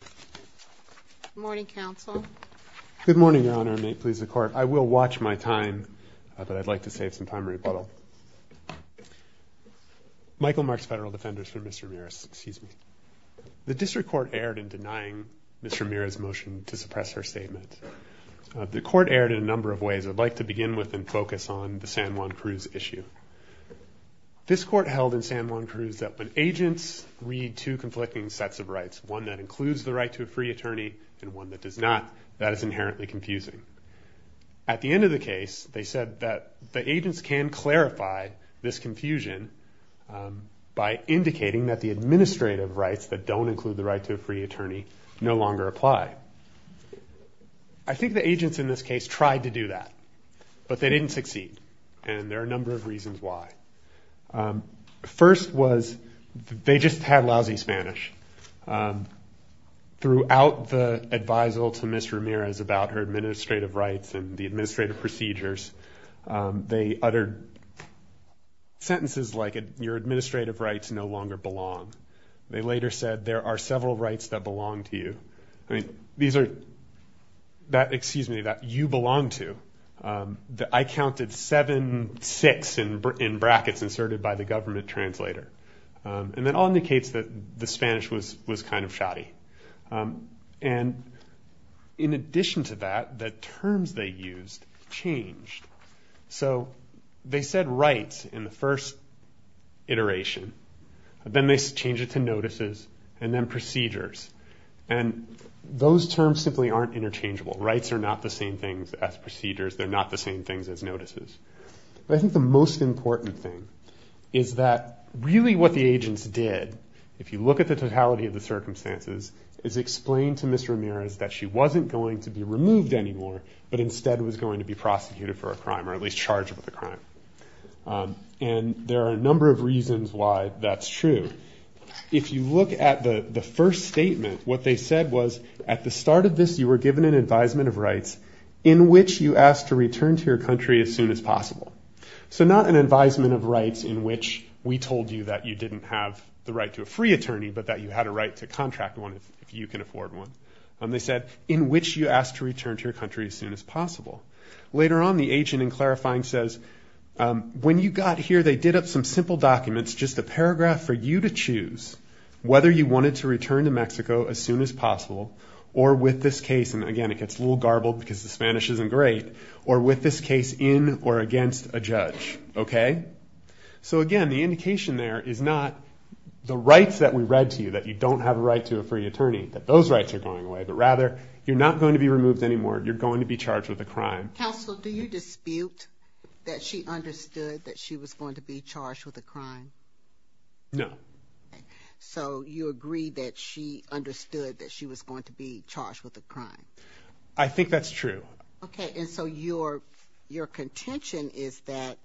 Good morning, Counsel. Good morning, Your Honor, and may it please the Court, I will watch my time, but I'd like to save some time and rebuttal. Michael Marks, Federal Defenders for Ms. Ramirez. Excuse me. The District Court erred in denying Ms. Ramirez's motion to suppress her statement. The Court erred in a number of ways. I'd like to begin with and focus on the San Juan Cruz issue. This Court held in San Juan Cruz that when agents read two conflicting sets of rights, one that includes the right to a free attorney and one that does not, that is inherently confusing. At the end of the case, they said that the agents can clarify this confusion by indicating that the administrative rights that don't include the right to a free attorney no longer apply. I think the agents in this case tried to do that, but they didn't succeed. And there are a number of reasons why. First was they just had lousy Spanish. Throughout the advisal to Ms. Ramirez about her administrative rights and the administrative procedures, they uttered sentences like, your administrative rights no longer belong. They later said, there are several rights that belong to you. These are, excuse me, that you belong to. I counted seven six in brackets inserted by the government translator. And that all indicates that the Spanish was kind of shoddy. And in addition to that, the terms they used changed. So they said rights in the first iteration. Then they changed it to notices and then procedures. And those terms simply aren't interchangeable. Rights are not the same things as procedures. They're not the same things as notices. But I think the most important thing is that really what the agents did, if you look at the totality of the circumstances, is explain to Ms. Ramirez that she wasn't going to be removed anymore, but instead was going to be prosecuted for a crime or at least charged with a crime. And there are a number of reasons why that's true. If you look at the first statement, what they said was, at the start of this you were given an advisement of rights in which you asked to return to your country as soon as possible. So not an advisement of rights in which we told you that you didn't have the right to a free attorney, but that you had a right to contract one if you can afford one. They said, in which you asked to return to your country as soon as possible. Later on, the agent in clarifying says, when you got here they did up some simple documents, just a paragraph for you to choose whether you wanted to return to Mexico as soon as possible, or with this case, and again it gets a little garbled because the Spanish isn't great, or with this case in or against a judge. So again, the indication there is not the rights that we read to you, that you don't have a right to a free attorney, that those rights are going away, but rather you're not going to be removed anymore, you're going to be charged with a crime. Counsel, do you dispute that she understood that she was going to be charged with a crime? No. Okay, so you agree that she understood that she was going to be charged with a crime? I think that's true. Okay, and so your contention is that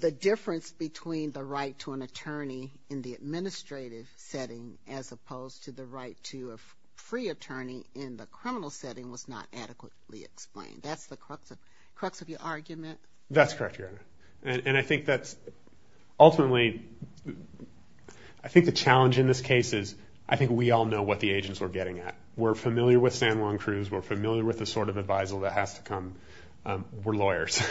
the difference between the right to an attorney in the administrative setting as opposed to the right to a free attorney in the criminal setting was not adequately explained. That's the crux of your argument? That's correct, Your Honor. And I think that's ultimately, I think the challenge in this case is, I think we all know what the agents were getting at. We're familiar with San Juan Cruz, we're familiar with the sort of advisal that has to come, we're lawyers.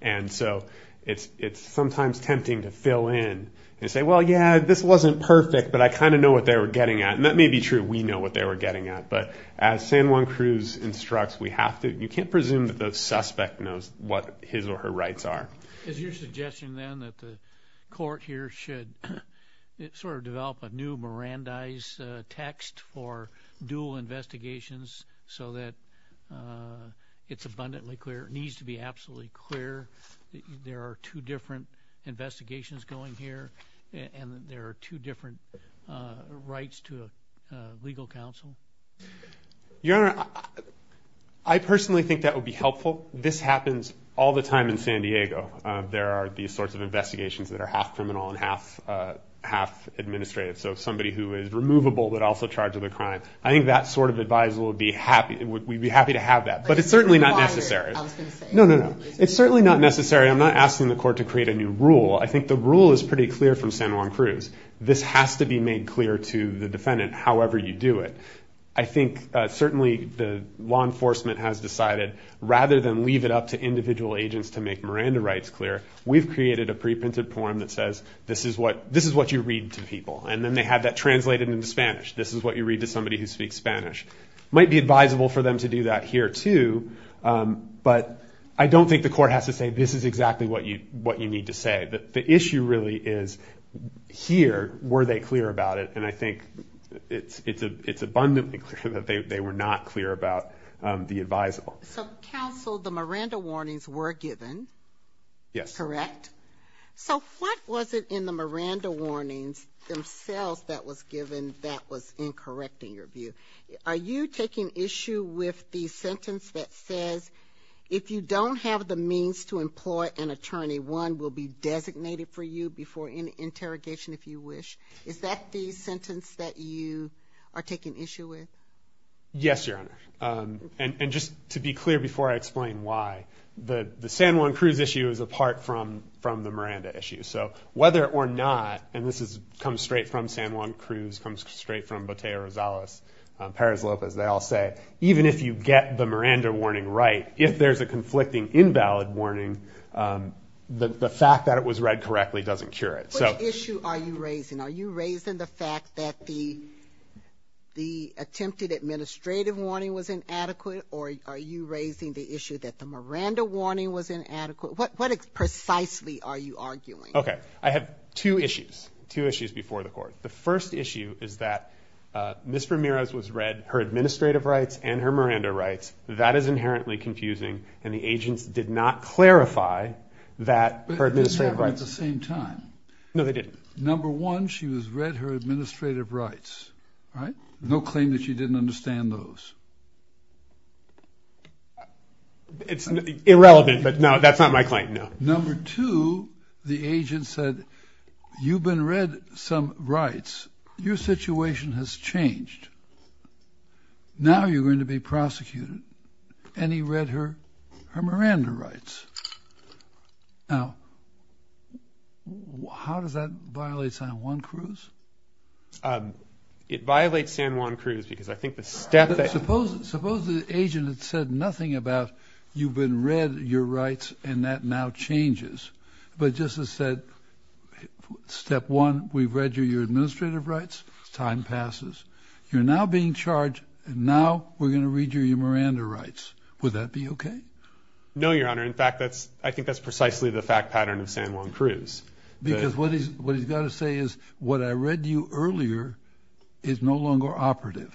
And so it's sometimes tempting to fill in and say, well, yeah, this wasn't perfect, but I kind of know what they were getting at. And that may be true, we know what they were getting at, but as San Juan Cruz instructs, we have to, you can't presume that the suspect knows what his or her rights are. Is your suggestion then that the court here should sort of develop a new Mirandize text for dual investigations so that it's abundantly clear, it needs to be absolutely clear that there are two different investigations going here and there are two different rights to a legal counsel? Your Honor, I personally think that would be helpful. This happens all the time in San Diego. There are these sorts of investigations that are half criminal and half administrative. So somebody who is removable but also charged with a crime, I think that sort of advisal would be happy, we'd be happy to have that. But it's certainly not necessary. No, no, no. It's certainly not necessary. I'm not asking the court to create a new rule. I think the rule is pretty clear from San Juan Cruz. This has to be made clear to the defendant, however you do it. I think certainly the law enforcement has decided, rather than leave it up to individual agents to make Miranda rights clear, we've created a pre-printed form that says, this is what you read to people, and then they have that translated into Spanish. This is what you read to somebody who speaks Spanish. It might be advisable for them to do that here too, but I don't think the court has to say, this is exactly what you need to say. The issue really is, here, were they clear about it? And I think it's abundantly clear that they were not clear about the advisable. So, counsel, the Miranda warnings were given. Yes. Correct? So what was it in the Miranda warnings themselves that was given that was incorrect in your view? Are you taking issue with the sentence that says, if you don't have the means to employ an attorney, one will be designated for you before any interrogation if you wish? Is that the sentence that you are taking issue with? Yes, Your Honor. And just to be clear before I explain why, the San Juan Cruz issue is apart from the Miranda issue. So whether or not, and this comes straight from San Juan Cruz, comes straight from Botella Rosales, Perez Lopez, they all say, even if you get the Miranda warning right, if there's a conflicting invalid warning, the fact that it was read correctly doesn't cure it. What issue are you raising? Are you raising the fact that the attempted administrative warning was inadequate, or are you raising the issue that the Miranda warning was inadequate? What precisely are you arguing? Okay. I have two issues, two issues before the court. The first issue is that Ms. Ramirez was read her administrative rights and her Miranda rights. That is inherently confusing, and the agents did not clarify that her administrative rights. But they didn't have them at the same time. No, they didn't. Number one, she was read her administrative rights, right? No claim that she didn't understand those. It's irrelevant, but no, that's not my claim, no. Number two, the agent said, you've been read some rights. Your situation has changed. Now you're going to be prosecuted. And he read her Miranda rights. Now, how does that violate San Juan Cruz? It violates San Juan Cruz because I think the step that Suppose the agent had said nothing about you've been read your rights and that now changes. But just as said, step one, we've read you your administrative rights. Time passes. You're now being charged, and now we're going to read you your Miranda rights. Would that be okay? No, Your Honor. In fact, I think that's precisely the fact pattern of San Juan Cruz. Because what he's got to say is what I read to you earlier is no longer operative.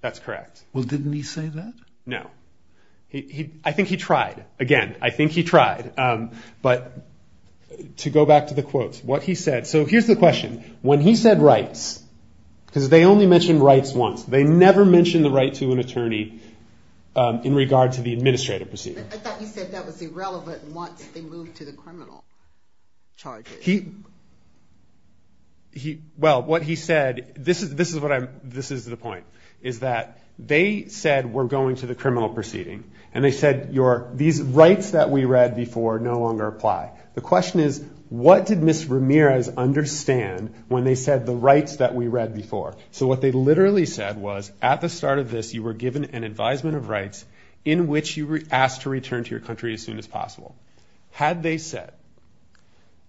That's correct. Well, didn't he say that? No. I think he tried. Again, I think he tried. But to go back to the quotes, what he said. So here's the question. When he said rights, because they only mentioned rights once. They never mentioned the right to an attorney in regard to the administrative proceeding. I thought you said that was irrelevant once they moved to the criminal charges. Well, what he said, this is the point, is that they said we're going to the criminal proceeding. And they said these rights that we read before no longer apply. The question is what did Ms. Ramirez understand when they said the rights that we read before? So what they literally said was at the start of this you were given an advisement of rights in which you were asked to return to your country as soon as possible. Had they said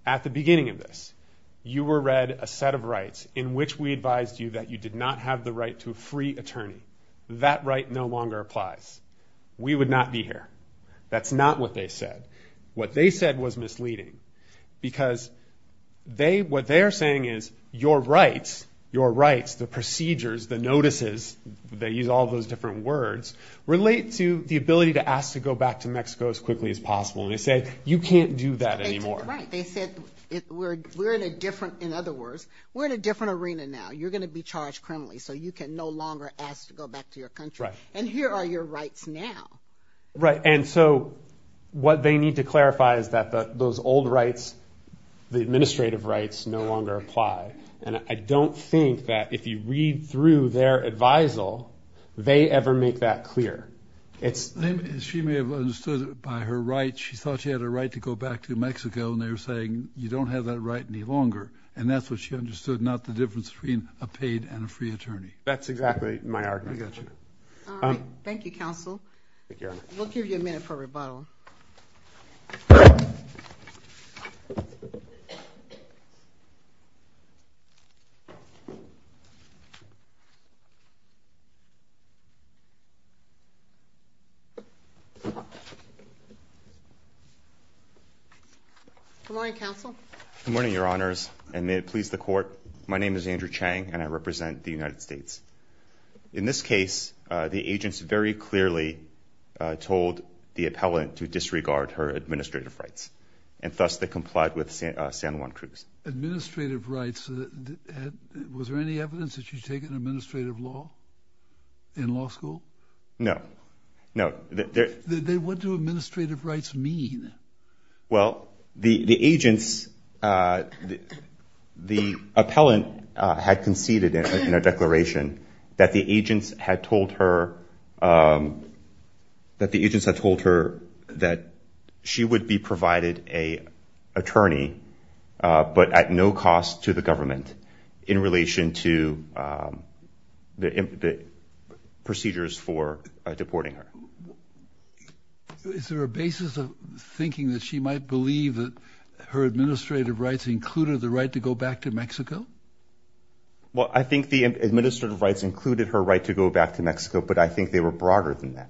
at the beginning of this you were read a set of rights in which we advised you that you did not have the right to a free attorney, that right no longer applies. We would not be here. That's not what they said. What they said was misleading. Because what they're saying is your rights, your rights, the procedures, the notices, they use all those different words, relate to the ability to ask to go back to Mexico as quickly as possible. And they said you can't do that anymore. They said we're in a different, in other words, we're in a different arena now. You're going to be charged criminally so you can no longer ask to go back to your country. And here are your rights now. Right, and so what they need to clarify is that those old rights, the administrative rights no longer apply. And I don't think that if you read through their advisal they ever make that clear. She may have understood by her right she thought she had a right to go back to Mexico and they were saying you don't have that right any longer. And that's what she understood, not the difference between a paid and a free attorney. That's exactly my argument. I got you. All right. Thank you, counsel. We'll give you a minute for rebuttal. Good morning, counsel. Good morning, Your Honors, and may it please the court. My name is Andrew Chang and I represent the United States. In this case, the agents very clearly told the appellant to disregard her administrative rights and thus they complied with San Juan Cruz. Administrative rights, was there any evidence that she's taken administrative law in law school? No, no. Then what do administrative rights mean? Well, the agents, the appellant had conceded in her declaration that the agents had told her that she would be provided an attorney, but at no cost to the government, in relation to the procedures for deporting her. Is there a basis of thinking that she might believe that her administrative rights included the right to go back to Mexico? Well, I think the administrative rights included her right to go back to Mexico, but I think they were broader than that.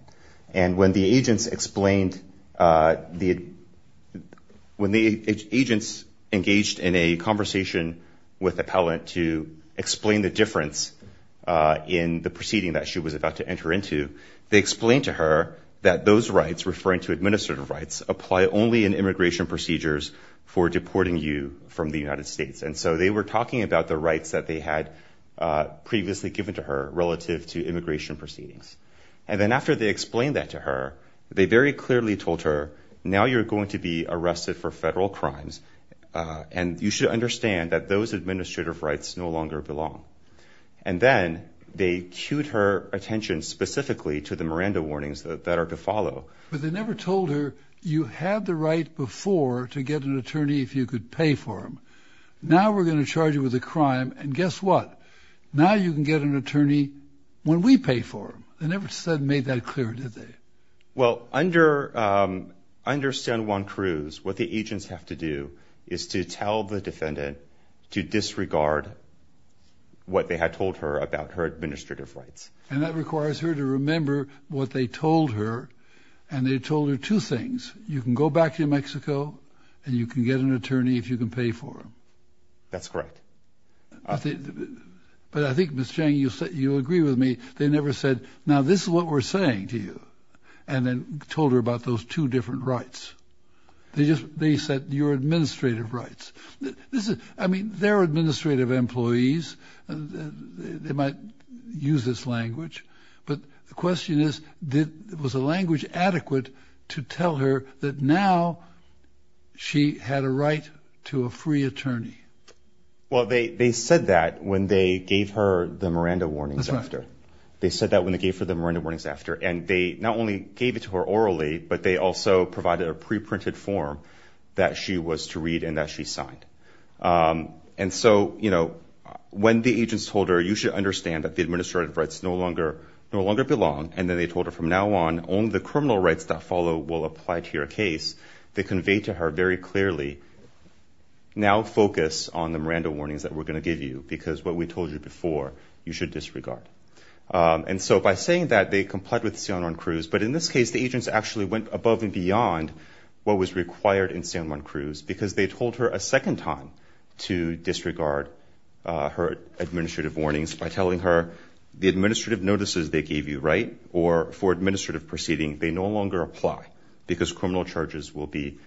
And when the agents explained, when the agents engaged in a conversation with the appellant to explain the difference in the proceeding that she was about to enter into, they explained to her that those rights, referring to administrative rights, apply only in immigration procedures for deporting you from the United States. And so they were talking about the rights that they had previously given to her relative to immigration proceedings. And then after they explained that to her, they very clearly told her, now you're going to be arrested for federal crimes and you should understand that those administrative rights no longer belong. And then they cued her attention specifically to the Miranda warnings that are to follow. But they never told her, you had the right before to get an attorney if you could pay for him. Now we're going to charge you with a crime, and guess what? Now you can get an attorney when we pay for him. They never made that clear, did they? Well, under San Juan Cruz, what the agents have to do is to tell the defendant to disregard what they had told her about her administrative rights. And that requires her to remember what they told her, and they told her two things. You can go back to New Mexico and you can get an attorney if you can pay for him. That's correct. But I think, Ms. Chang, you agree with me. They never said, now this is what we're saying to you, and then told her about those two different rights. They said your administrative rights. I mean, they're administrative employees. They might use this language. But the question is, was the language adequate to tell her that now she had a right to a free attorney? Well, they said that when they gave her the Miranda warnings after. They said that when they gave her the Miranda warnings after. And they not only gave it to her orally, but they also provided a pre-printed form that she was to read and that she signed. And so, you know, when the agents told her, you should understand that the administrative rights no longer belong, and then they told her from now on, only the criminal rights that follow will apply to your case, they conveyed to her very clearly, now focus on the Miranda warnings that we're going to give you, because what we told you before, you should disregard. And so by saying that, they complied with San Juan Cruz. But in this case, the agents actually went above and beyond what was required in San Juan Cruz, because they told her a second time to disregard her administrative warnings by telling her the administrative notices they gave you, right, or for administrative proceeding, they no longer apply, because criminal charges will be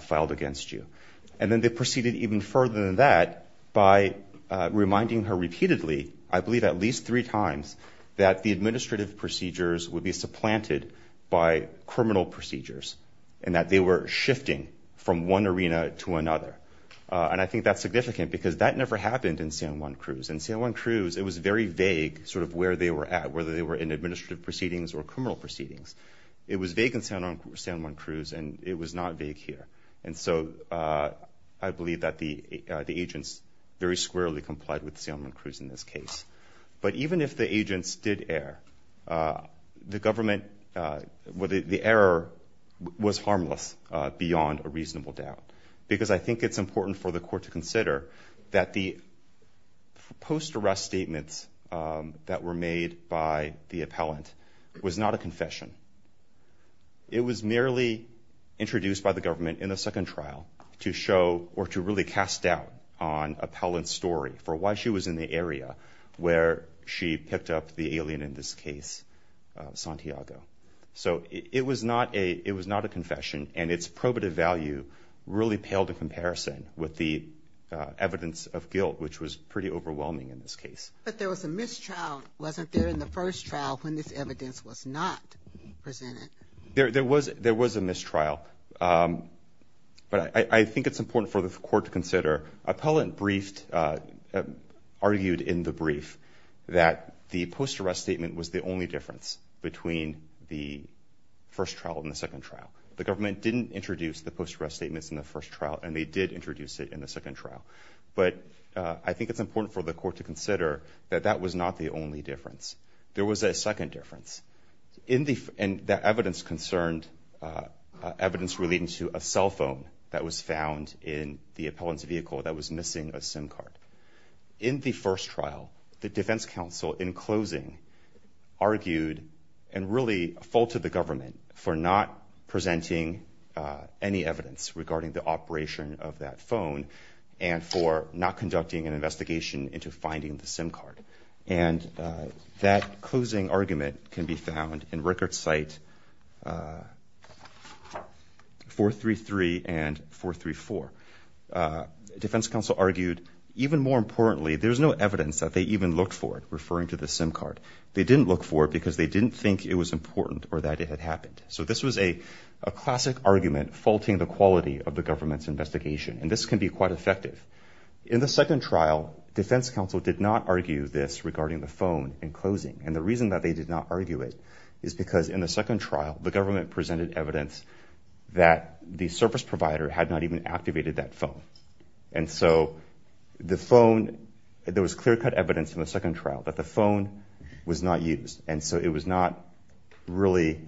filed against you. And then they proceeded even further than that by reminding her repeatedly, I believe at least three times, that the administrative procedures would be supplanted by criminal procedures and that they were shifting from one arena to another. And I think that's significant, because that never happened in San Juan Cruz. In San Juan Cruz, it was very vague sort of where they were at, whether they were in administrative proceedings or criminal proceedings. It was vague in San Juan Cruz, and it was not vague here. And so I believe that the agents very squarely complied with San Juan Cruz in this case. But even if the agents did err, the government, the error was harmless beyond a reasonable doubt, because I think it's important for the court to consider that the post-arrest statements that were made by the appellant was not a confession. It was merely introduced by the government in the second trial to show or to really cast doubt on appellant's story for why she was in the area where she picked up the alien in this case, Santiago. So it was not a confession, and its probative value really paled in comparison with the evidence of guilt, which was pretty overwhelming in this case. But there was a mistrial, wasn't there, in the first trial when this evidence was not presented? There was a mistrial, but I think it's important for the court to consider. Appellant argued in the brief that the post-arrest statement was the only difference between the first trial and the second trial. The government didn't introduce the post-arrest statements in the first trial, and they did introduce it in the second trial. But I think it's important for the court to consider that that was not the only difference. There was a second difference, and that evidence concerned evidence relating to a cell phone that was found in the appellant's vehicle that was missing a SIM card. In the first trial, the defense counsel, in closing, argued and really faulted the government for not presenting any evidence regarding the operation of that phone and for not conducting an investigation into finding the SIM card. And that closing argument can be found in record site 433 and 434. Defense counsel argued, even more importantly, there's no evidence that they even looked for it, referring to the SIM card. They didn't look for it because they didn't think it was important or that it had happened. So this was a classic argument faulting the quality of the government's investigation, and this can be quite effective. In the second trial, defense counsel did not argue this regarding the phone in closing. And the reason that they did not argue it is because in the second trial, the government presented evidence that the service provider had not even activated that phone. And so the phone, there was clear-cut evidence in the second trial that the phone was not used, and so it was not really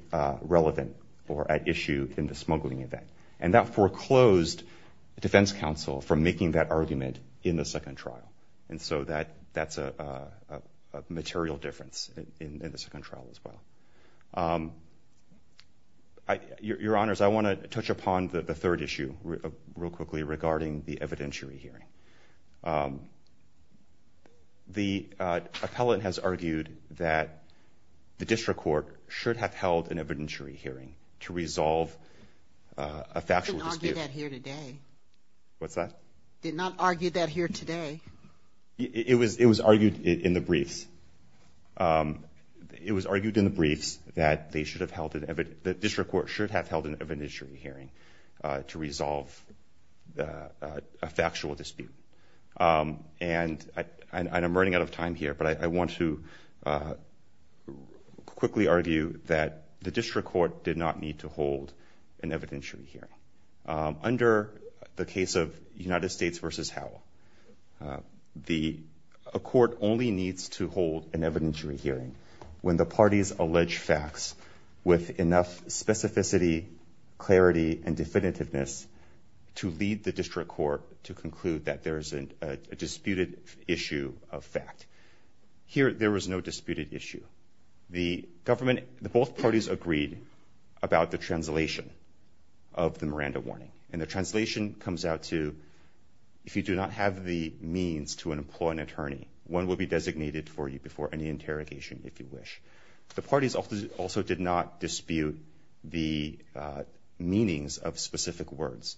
relevant or at issue in the smuggling event. And that foreclosed defense counsel from making that argument in the second trial. And so that's a material difference in the second trial as well. Your Honors, I want to touch upon the third issue real quickly regarding the evidentiary hearing. The appellate has argued that the district court should have held an evidentiary hearing to resolve a factual dispute. I didn't argue that here today. What's that? Did not argue that here today. It was argued in the briefs. It was argued in the briefs that they should have held an evidentiary – And I'm running out of time here, but I want to quickly argue that the district court did not need to hold an evidentiary hearing. Under the case of United States v. Howell, the court only needs to hold an evidentiary hearing when the parties allege facts with enough specificity, clarity, and definitiveness to lead the district court to conclude that there is a disputed issue of fact. Here, there was no disputed issue. The government – both parties agreed about the translation of the Miranda warning. And the translation comes out to, if you do not have the means to employ an attorney, one will be designated for you before any interrogation, if you wish. The parties also did not dispute the meanings of specific words.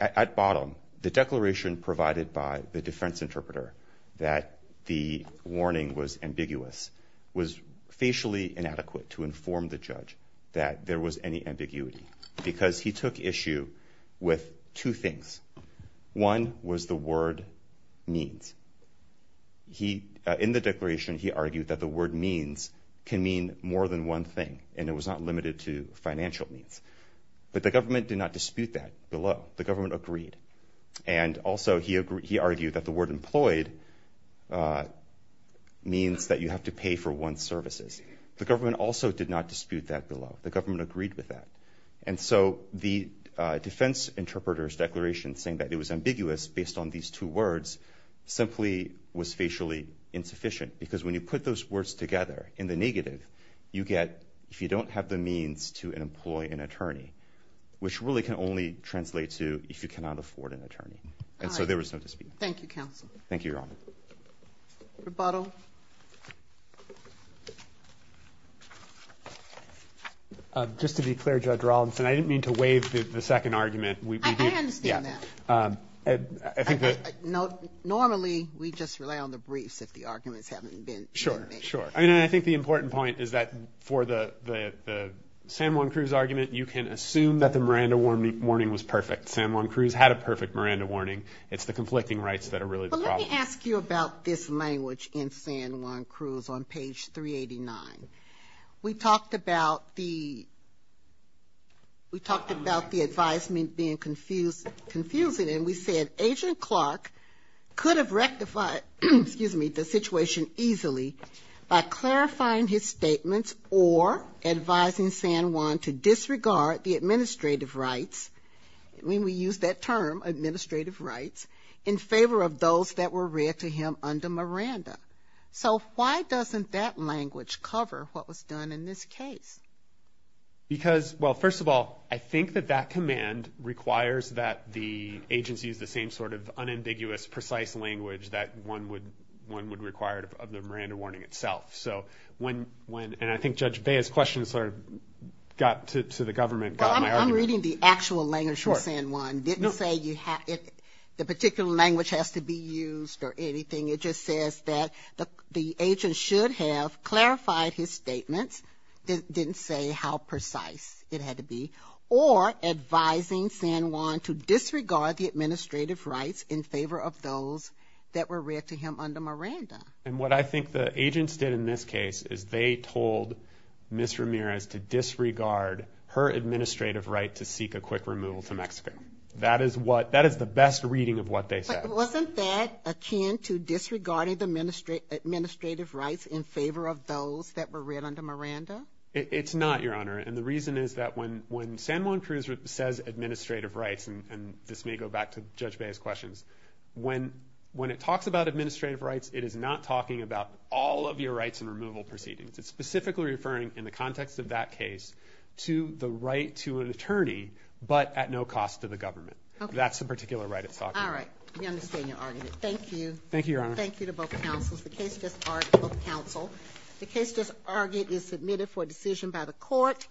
At bottom, the declaration provided by the defense interpreter that the warning was ambiguous was facially inadequate to inform the judge that there was any ambiguity because he took issue with two things. One was the word means. In the declaration, he argued that the word means can mean more than one thing, and it was not limited to financial means. But the government did not dispute that below. The government agreed. And also, he argued that the word employed means that you have to pay for one's services. The government also did not dispute that below. The government agreed with that. And so the defense interpreter's declaration saying that it was ambiguous based on these two words simply was facially insufficient because when you put those words together in the negative, you get if you don't have the means to employ an attorney, which really can only translate to if you cannot afford an attorney. And so there was no dispute. Thank you, counsel. Thank you, Your Honor. Rebuttal. Rebuttal. Just to be clear, Judge Rollinson, I didn't mean to waive the second argument. I understand that. Normally, we just rely on the briefs if the arguments haven't been made. Sure, sure. I mean, I think the important point is that for the San Juan Cruz argument, you can assume that the Miranda warning was perfect. San Juan Cruz had a perfect Miranda warning. It's the conflicting rights that are really the problem. Let me ask you about this language in San Juan Cruz on page 389. We talked about the advisement being confusing, and we said Agent Clark could have rectified the situation easily by clarifying his statements or advising San Juan to disregard the administrative rights. I mean, we used that term, administrative rights, in favor of those that were read to him under Miranda. So why doesn't that language cover what was done in this case? Because, well, first of all, I think that that command requires that the agency use the same sort of unambiguous, precise language that one would require of the Miranda warning itself. And I think Judge Bea's question sort of got to the government, got my argument. I'm reading the actual language from San Juan. It didn't say the particular language has to be used or anything. It just says that the agent should have clarified his statements, didn't say how precise it had to be, or advising San Juan to disregard the administrative rights in favor of those that were read to him under Miranda. And what I think the agents did in this case is they told Ms. Ramirez to disregard her administrative right to seek a quick removal to Mexico. That is the best reading of what they said. But wasn't that akin to disregarding the administrative rights in favor of those that were read under Miranda? It's not, Your Honor. And the reason is that when San Juan Cruz says administrative rights, and this may go back to Judge Bea's questions, when it talks about administrative rights, it is not talking about all of your rights and removal proceedings. It's specifically referring, in the context of that case, to the right to an attorney but at no cost to the government. That's the particular right it's talking about. All right, we understand your argument. Thank you. Thank you, Your Honor. Thank you to both counsels. The case just argued by both counsel. The case just argued is submitted for decision by the court.